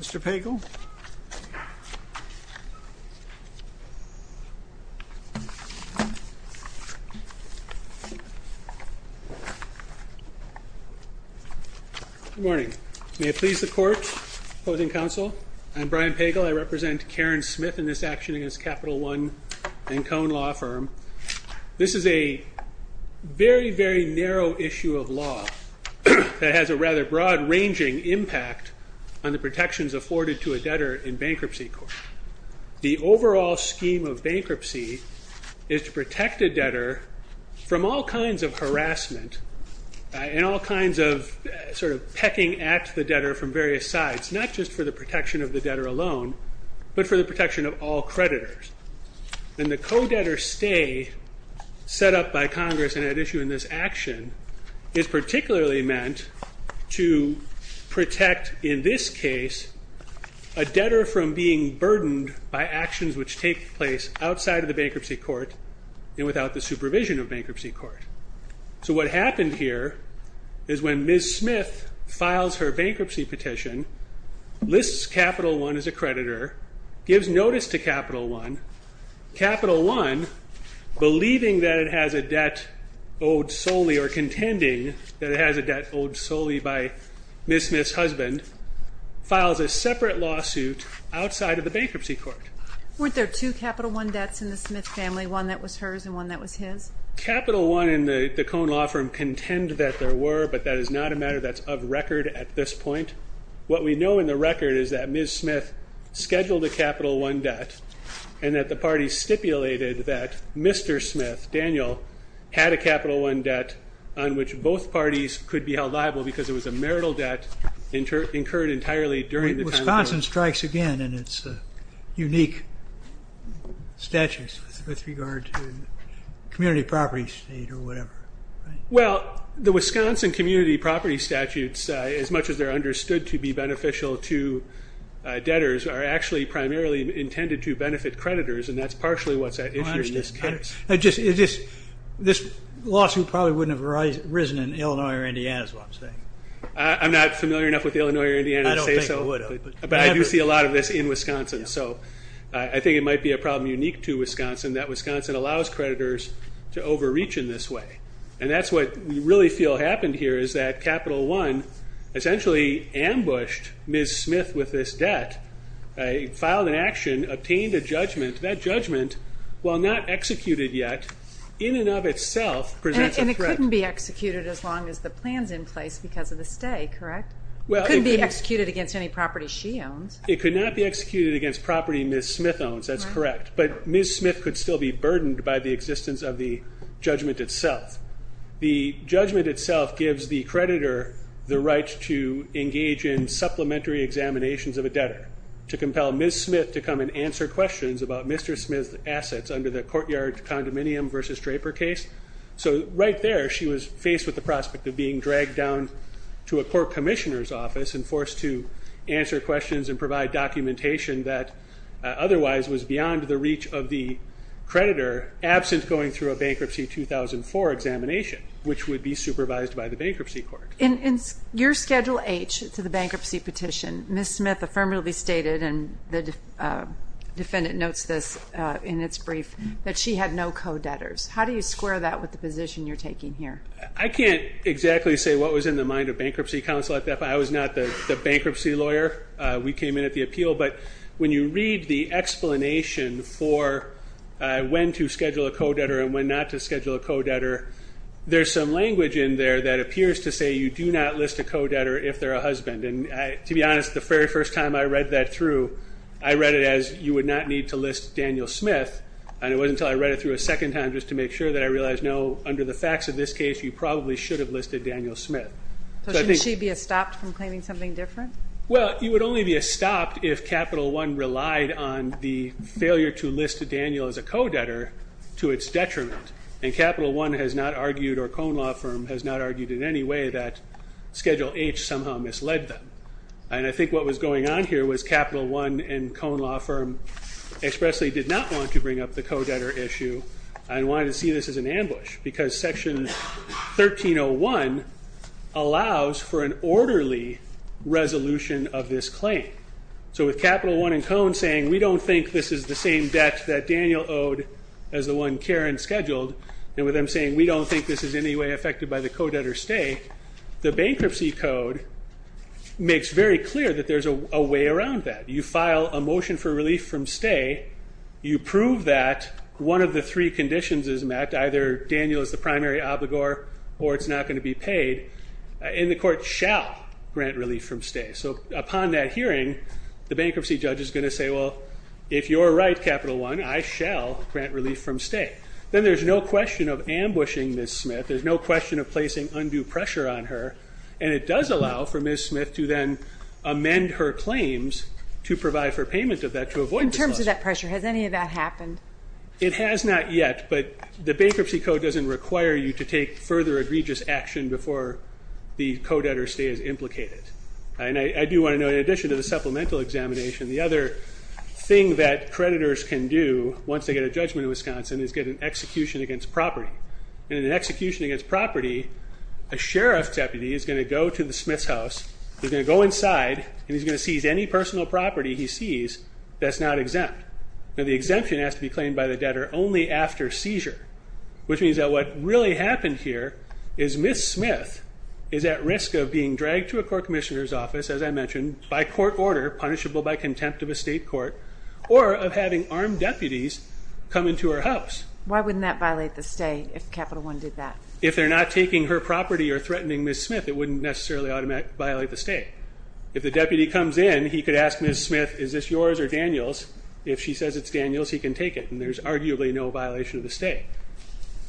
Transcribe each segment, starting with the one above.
Mr. Pagel Good morning. May it please the court, opposing counsel, I'm Brian Pagel, I represent Karen Smith in this action against Capital One and Cone Law Firm. This is a very, very narrow issue of law that has a rather broad ranging impact on the protections afforded to a debtor in bankruptcy court. The overall scheme of bankruptcy is to protect a debtor from all kinds of harassment and all kinds of sort of pecking at the debtor from various sides, not just for the protection of the debtor alone, but for the protection of all creditors. And the action is particularly meant to protect, in this case, a debtor from being burdened by actions which take place outside of the bankruptcy court and without the supervision of bankruptcy court. So what happened here is when Ms. Smith files her bankruptcy petition, lists Capital One as a or contending that it has a debt owed solely by Ms. Smith's husband, files a separate lawsuit outside of the bankruptcy court. Weren't there two Capital One debts in the Smith family, one that was hers and one that was his? Capital One and the Cone Law Firm contend that there were, but that is not a matter that's of record at this point. What we know in the record is that Ms. Smith scheduled a Capital One debt and that the party stipulated that Mr. Smith, Daniel, had a Capital One debt on which both parties could be held liable because it was a marital debt incurred entirely during the time. Wisconsin strikes again in its unique statutes with regard to community property state or whatever. Well, the Wisconsin community property statutes, as much as they're understood to be beneficial to debtors, are actually primarily intended to benefit creditors and that's partially what's at issue in this case. This lawsuit probably wouldn't have arisen in Illinois or Indiana is what I'm saying. I'm not familiar enough with Illinois or Indiana to say so, but I do see a lot of this in Wisconsin. So I think it might be a problem unique to Wisconsin that Wisconsin allows creditors to overreach in this way. And that's what we really feel happened here is that Capital One essentially ambushed Ms. Smith with this debt, filed an action, obtained a judgment. That judgment, while not executed yet, in and of itself presents a threat. And it couldn't be executed as long as the plan's in place because of the stay, correct? It couldn't be executed against any property she owns. It could not be executed against property Ms. Smith owns, that's correct, but Ms. Smith could still be burdened by the existence of the judgment itself. The judgment itself gives the creditor the right to engage in supplementary examinations of a debtor, to compel Ms. Smith to come and answer questions about Mr. Smith's assets under the Courtyard Condominium v. Draper case. So right there she was faced with the prospect of being dragged down to a court commissioner's office and forced to answer questions and provide documentation that otherwise was beyond the reach of the creditor, absent going through a Bankruptcy 2004 examination, which would be supervised by the Bankruptcy Court. In your Schedule H to the bankruptcy petition, Ms. Smith affirmatively stated, and the defendant notes this in its brief, that she had no co-debtors. How do you square that with the position you're taking here? I can't exactly say what was in the mind of Bankruptcy Counsel at that point. I was not the bankruptcy lawyer. We came in at the appeal, but when you read the explanation for when to schedule a co-debtor and when not to schedule a co-debtor, there's some things you do not list a co-debtor if they're a husband. And to be honest, the very first time I read that through, I read it as, you would not need to list Daniel Smith. And it wasn't until I read it through a second time just to make sure that I realized, no, under the facts of this case, you probably should have listed Daniel Smith. So shouldn't she be estopped from claiming something different? Well, you would only be estopped if Capital One relied on the failure to list Daniel as a co-debtor to its detriment. And Capital One has not argued, or Cone Law Firm has not argued in any way, that Schedule H somehow misled them. And I think what was going on here was Capital One and Cone Law Firm expressly did not want to bring up the co-debtor issue and wanted to see this as an ambush, because Section 1301 allows for an orderly resolution of this claim. So with Capital One and Cone saying, we don't think this is the same debt that Daniel owed as the one that was there and scheduled, and with them saying, we don't think this is in any way affected by the co-debtor's stake, the bankruptcy code makes very clear that there's a way around that. You file a motion for relief from stay, you prove that one of the three conditions is met, either Daniel is the primary obligor or it's not going to be paid, and the court shall grant relief from stay. So upon that hearing, the bankruptcy judge is going to say, well, if you're right, Capital One, I shall grant relief from stay. Then there's no question of ambushing Ms. Smith, there's no question of placing undue pressure on her, and it does allow for Ms. Smith to then amend her claims to provide for payment of that to avoid disclosure. In terms of that pressure, has any of that happened? It has not yet, but the bankruptcy code doesn't require you to take further egregious action before the co-debtor's stay is implicated. And I do want to note, in addition to the supplemental examination, the other thing that creditors can do once they get a judgment in Wisconsin is get an execution against property. And in an execution against property, a sheriff's deputy is going to go to the Smiths' house, he's going to go inside, and he's going to seize any personal property he sees that's not exempt. Now the exemption has to be claimed by the debtor only after seizure, which means that what really happened here is Ms. Smith is at risk of being dragged to a court commissioner's office, as I mentioned, by court order, punishable by contempt of a state court, or of having armed deputies come into her house. Why wouldn't that violate the stay if Capital One did that? If they're not taking her property or threatening Ms. Smith, it wouldn't necessarily violate the stay. If the deputy comes in, he could ask Ms. Smith, is this yours or Daniel's? If she says it's Daniel's, he can take it, and there's arguably no violation of the stay.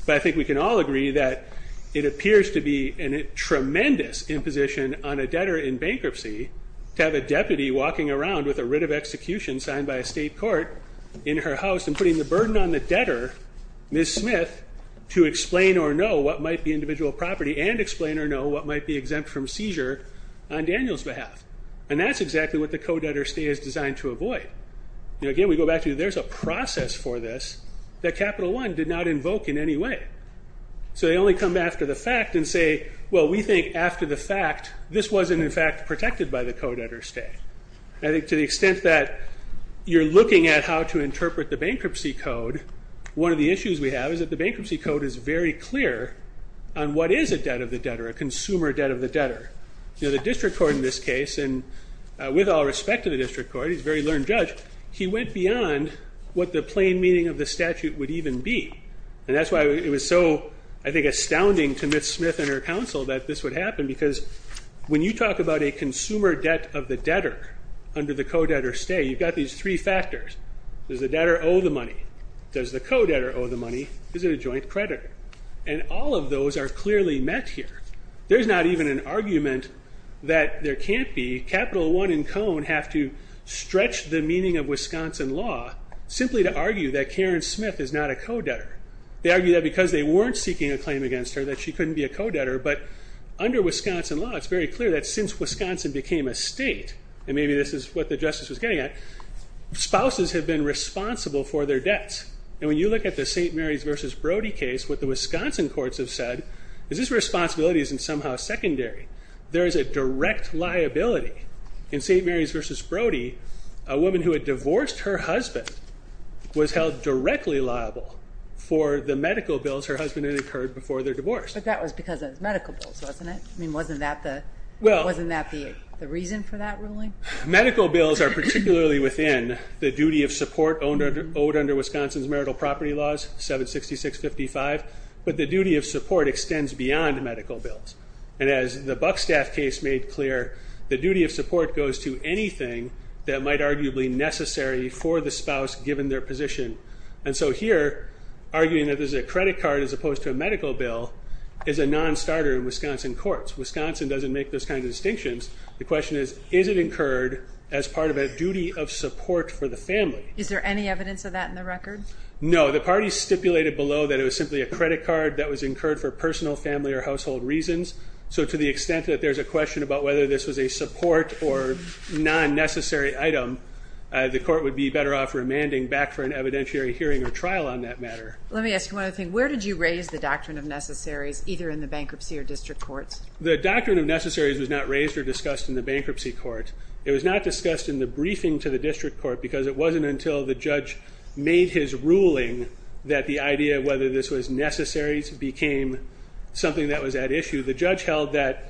But I think we can all agree that it appears to be a tremendous imposition on a debtor in bankruptcy to have a deputy walking around with a writ of execution signed by a state court in her house and putting the burden on the debtor, Ms. Smith, to explain or know what might be individual property and explain or know what might be exempt from seizure on Daniel's behalf. And that's exactly what the co-debtor stay is designed to avoid. Again, we go back to there's a process for this that Capital One did not invoke in any way. So they only come after the fact and say, well, we think after the fact, this wasn't in fact protected by the co-debtor stay. I think to the extent that you're looking at how to interpret the bankruptcy code, one of the issues we have is that the bankruptcy code is very clear on what is a debt of the debtor, a consumer debt of the debtor. The district court in this case, and with all respect to the district court, he's a very learned judge, he went beyond what the plain meaning of the statute would even be. And that's why it was so, I think, astounding to Ms. Smith and her counsel that this would happen because when you talk about a consumer debt of the debtor under the co-debtor stay, you've got these three factors. Does the debtor owe the money? Does the co-debtor owe the money? Is it a joint creditor? And all of those are clearly met here. There's not even an argument that there can't be. Capital One and Cone have to stretch the meaning of Wisconsin law simply to argue that They argue that because they weren't seeking a claim against her that she couldn't be a co-debtor. But under Wisconsin law, it's very clear that since Wisconsin became a state, and maybe this is what the justice was getting at, spouses have been responsible for their debts. And when you look at the St. Mary's v. Brody case, what the Wisconsin courts have said is this responsibility isn't somehow secondary. There is a direct liability in St. Mary's v. Brody. A woman who had divorced her husband was held directly liable for the medical bills her husband had incurred before their divorce. But that was because of medical bills, wasn't it? I mean, wasn't that the reason for that ruling? Medical bills are particularly within the duty of support owed under Wisconsin's marital property laws, 766-55. But the duty of support extends beyond medical bills. And as the Buckstaff case made clear, the duty of support goes to anything that might arguably be necessary for the spouse given their position. And so here, arguing that this is a credit card as opposed to a medical bill is a non-starter in Wisconsin courts. Wisconsin doesn't make those kinds of distinctions. The question is, is it incurred as part of a duty of support for the family? Is there any evidence of that in the record? No. The parties stipulated below that it was simply a credit card that was incurred for personal, family, or household reasons. So to the extent that there's a question about whether this was a support or non-necessary item, the court would be better off remanding back for an evidentiary hearing or trial on that matter. Let me ask you one other thing. Where did you raise the Doctrine of Necessaries, either in the bankruptcy or district courts? The Doctrine of Necessaries was not raised or discussed in the bankruptcy court. It was not discussed in the briefing to the district court because it wasn't until the judge made his ruling that the idea of whether this was necessary became something that was at issue. The judge held that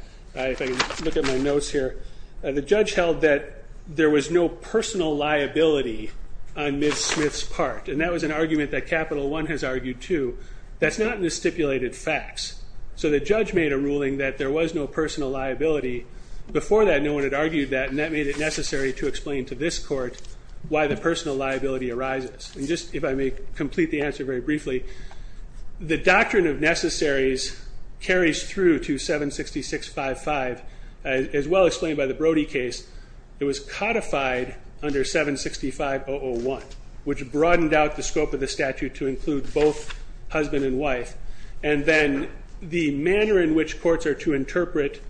there was no personal liability on Ms. Smith's part, and that was an argument that Capital One has argued too. That's not in the stipulated facts. So the judge made a ruling that there was no personal liability. Before that, no one had argued that, and that made it necessary to explain to this court why the personal liability arises. And just if I may complete the answer very briefly, the Doctrine of Necessaries carries through to 766.55. As well explained by the Brody case, it was codified under 765.001, which broadened out the scope of the statute to include both husband and wife. And then the manner in which courts are to interpret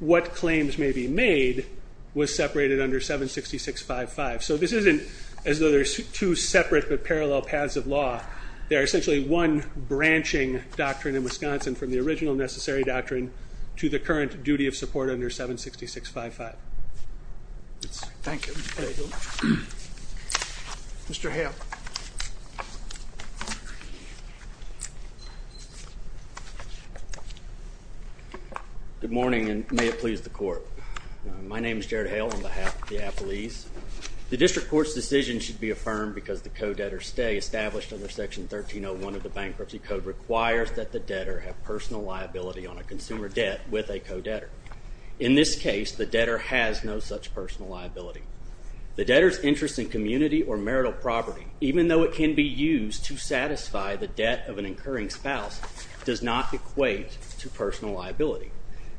what claims may be made was separated under 766.55. So this isn't as though there's two separate but parallel paths of law. They are essentially one branching doctrine in Wisconsin from the original necessary doctrine to the current duty of support under 766.55. Thank you. Mr. Hale. Good morning, and may it please the court. My name is Jared Hale on behalf of the Appalese. The district court's decision should be affirmed because the co-debtor stay established under Section 1301 of the Bankruptcy Code requires that the debtor have personal liability on a consumer debt with a co-debtor. In this case, the debtor has no such personal liability. The debtor's interest in community or marital property, even though it can be used to satisfy the debt of an incurring spouse, does not equate to personal liability.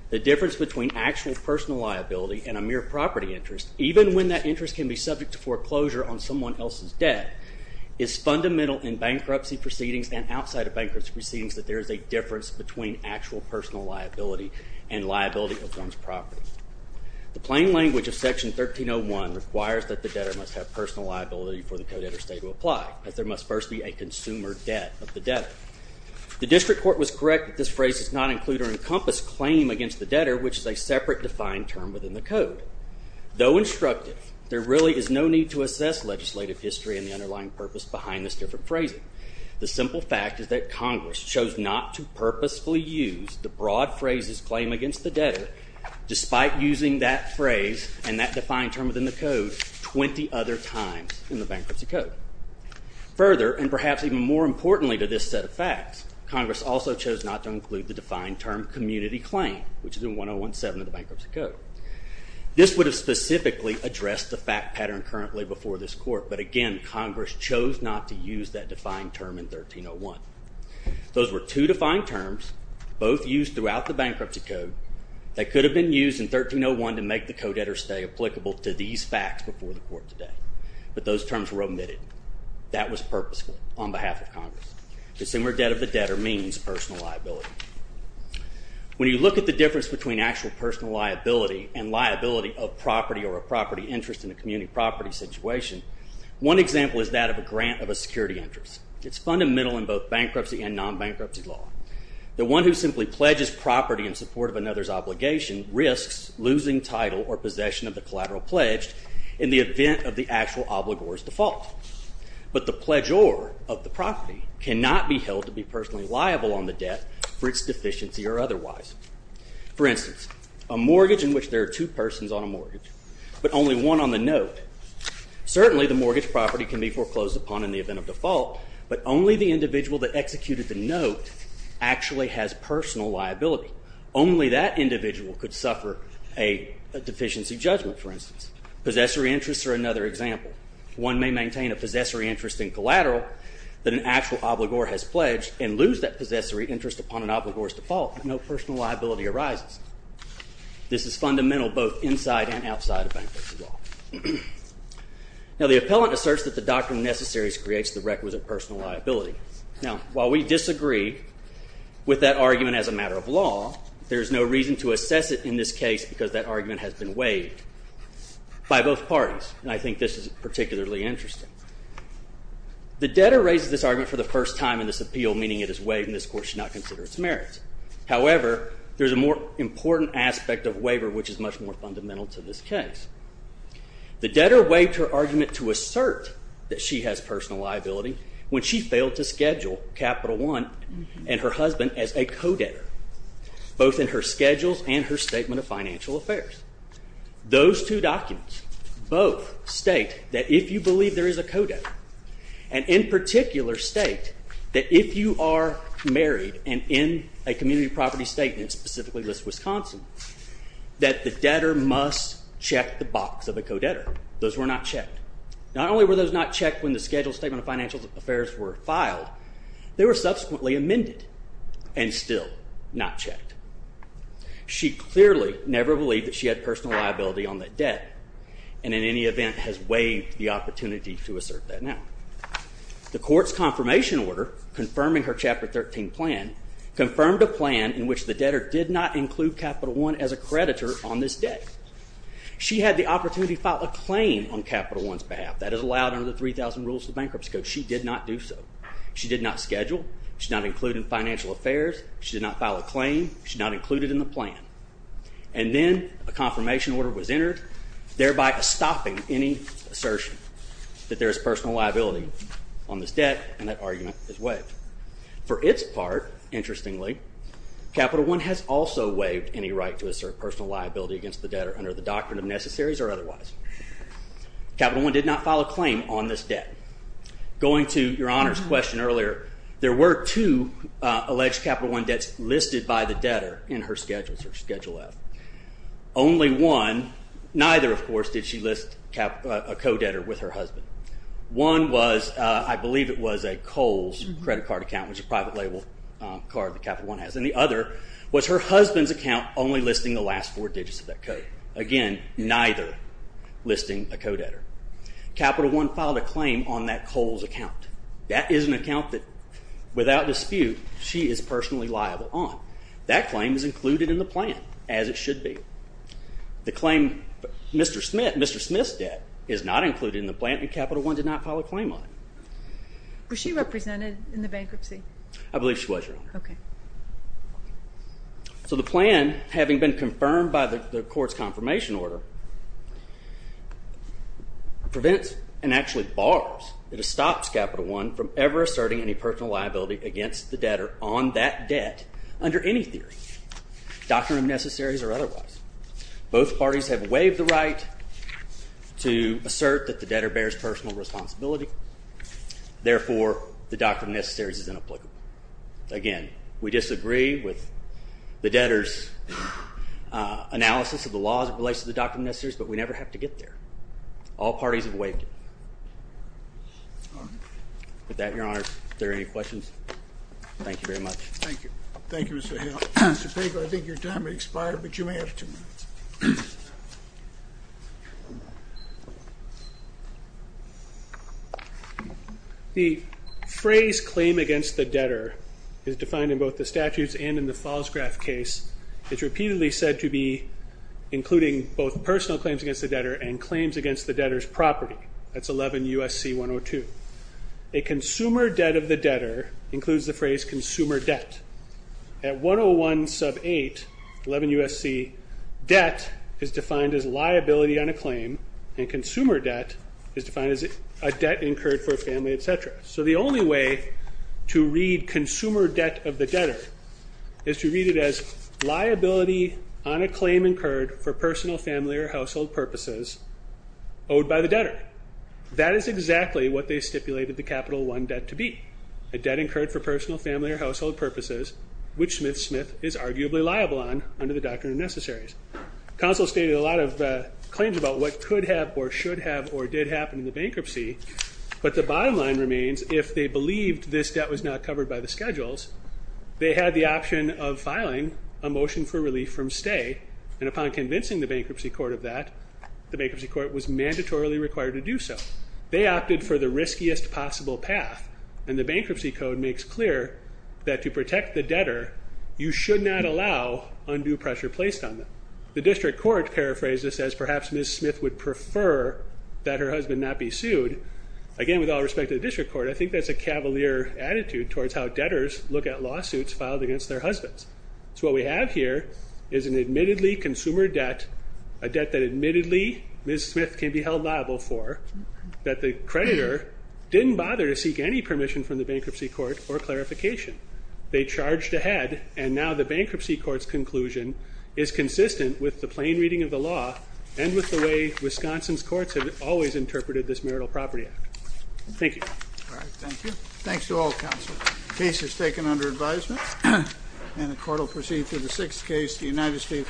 The difference between actual personal liability and a mere property interest, even when that interest can be subject to foreclosure on someone else's debt, is fundamental in bankruptcy proceedings and outside of bankruptcy proceedings that there is a difference between actual personal liability and liability of one's property. The plain language of Section 1301 requires that the debtor must have personal liability for the co-debtor stay to apply, as there must first be a consumer debt of the debtor. The district court was correct that this phrase does not include or encompass claim against the debtor, which is a separate defined term within the code. Though instructive, there really is no need to assess legislative history and the underlying purpose behind this different phrasing. The simple fact is that Congress chose not to purposefully use the broad phrases claim against the debtor, despite using that phrase and that defined term within the code 20 other times in the Bankruptcy Code. Further, and perhaps even more importantly to this set of facts, Congress also chose not to include the defined term community claim, which is in 1017 of the Bankruptcy Code. This would have specifically addressed the fact pattern currently before this court, but again, Congress chose not to use that defined term in 1301. Those were two defined terms, both used throughout the Bankruptcy Code, that could have been used in 1301 to make the co-debtor stay applicable to these facts before the court today, but those terms were omitted. That was purposeful on behalf of Congress. Consumer debt of the debtor means personal liability. When you look at the difference between actual personal liability and liability of property or a property interest in a community property situation, one example is that of a grant of a security interest. It's fundamental in both bankruptcy and non-bankruptcy law. The one who simply pledges property in support of another's obligation risks losing title or possession of the collateral pledged in the event of the actual obligor's default. But the pledgeor of the property cannot be held to be personally liable on the debt for its deficiency or otherwise. For instance, a mortgage in which there are two persons on a mortgage, but only one on the note. Certainly the mortgage property can be foreclosed upon in the event of default, but only the individual that executed the note actually has personal liability. Only that individual could suffer a deficiency judgment, for instance. Possessory interests are another example. One may maintain a possessory interest in collateral that an actual obligor has pledged and lose that possessory interest upon an obligor's default. No personal liability arises. This is fundamental both inside and outside of bankruptcy law. Now, the appellant asserts that the doctrine necessary creates the requisite personal liability. Now, while we disagree with that argument as a matter of law, there is no reason to assess it in this case because that argument has been waived by both parties, and I think this is particularly interesting. The debtor raises this argument for the first time in this appeal, meaning it is waived and this court should not consider its merits. However, there is a more important aspect of waiver, which is much more fundamental to this case. The debtor waived her argument to assert that she has personal liability when she failed to schedule Capital One and her husband as a co-debtor, both in her schedules and her statement of financial affairs. Those two documents both state that if you believe there is a co-debtor and in particular state that if you are married and in a community property state, and it specifically lists Wisconsin, that the debtor must check the box of a co-debtor. Those were not checked. Not only were those not checked when the scheduled statement of financial affairs were filed, they were subsequently amended and still not checked. She clearly never believed that she had personal liability on that debt and in any event has waived the opportunity to assert that now. The court's confirmation order confirming her Chapter 13 plan confirmed a plan in which the debtor did not include Capital One as a creditor on this debt. She had the opportunity to file a claim on Capital One's behalf. That is allowed under the 3,000 Rules of Bankruptcy Code. She did not do so. She did not schedule. She did not include in financial affairs. She did not file a claim. She did not include it in the plan. And then a confirmation order was entered, thereby stopping any assertion that there is personal liability on this debt, and that argument is waived. For its part, interestingly, Capital One has also waived any right to assert personal liability against the debtor under the doctrine of necessaries or otherwise. Capital One did not file a claim on this debt. Going to Your Honor's question earlier, there were two alleged Capital One debts listed by the debtor in her Schedule F. Only one, neither, of course, did she list a co-debtor with her husband. One was, I believe it was, a Kohl's credit card account, which is a private label card that Capital One has. And the other was her husband's account only listing the last four digits of that code. Again, neither listing a co-debtor. Capital One filed a claim on that Kohl's account. That is an account that, without dispute, she is personally liable on. That claim is included in the plan, as it should be. The claim Mr. Smith's debt is not included in the plan, and Capital One did not file a claim on it. Was she represented in the bankruptcy? I believe she was, Your Honor. Okay. So the plan, having been confirmed by the court's confirmation order, prevents and actually bars, it stops Capital One from ever asserting any personal liability against the debtor on that debt under any theory, doctrine of necessaries or otherwise. Both parties have waived the right to assert that the debtor bears personal responsibility. Therefore, the doctrine of necessaries is inapplicable. Again, we disagree with the debtor's analysis of the law as it relates to the doctrine of necessaries, but we never have to get there. All parties have waived it. With that, Your Honor, if there are any questions, thank you very much. Thank you. Thank you, Mr. Hale. Mr. Pago, I think your time has expired, but you may have two minutes. The phrase claim against the debtor is defined in both the statutes and in the Falsgraf case. It's repeatedly said to be including both personal claims against the debtor and claims against the debtor's property. That's 11 U.S.C. 102. A consumer debt of the debtor includes the phrase consumer debt. At 101 sub 8, 11 U.S.C., debt is defined as liability on a claim, and consumer debt is defined as a debt incurred for a family, et cetera. So the only way to read consumer debt of the debtor is to read it as liability on a claim incurred for personal, family, or household purposes owed by the debtor. That is exactly what they stipulated the Capital I debt to be, a debt incurred for personal, family, or household purposes, which Smith Smith is arguably liable on under the Doctrine of Necessaries. Counsel stated a lot of claims about what could have or should have or did happen in the bankruptcy, but the bottom line remains, if they believed this debt was not covered by the schedules, they had the option of filing a motion for relief from stay, and upon convincing the bankruptcy court of that, the bankruptcy court was mandatorily required to do so. They opted for the riskiest possible path, and the bankruptcy code makes clear that to protect the debtor, you should not allow undue pressure placed on them. The district court paraphrased this as perhaps Ms. Smith would prefer that her husband not be sued. Again, with all respect to the district court, I think that's a cavalier attitude towards how debtors look at lawsuits filed against their husbands. So what we have here is an admittedly consumer debt, a debt that admittedly Ms. Smith can be held liable for, that the creditor didn't bother to seek any permission from the bankruptcy court for clarification. They charged ahead, and now the bankruptcy court's conclusion is consistent with the plain reading of the law and with the way Wisconsin's courts have always interpreted this Marital Property Act. Thank you. All right, thank you. Thanks to all counselors. The case is taken under advisement, and the court will proceed to the sixth case, the United States case.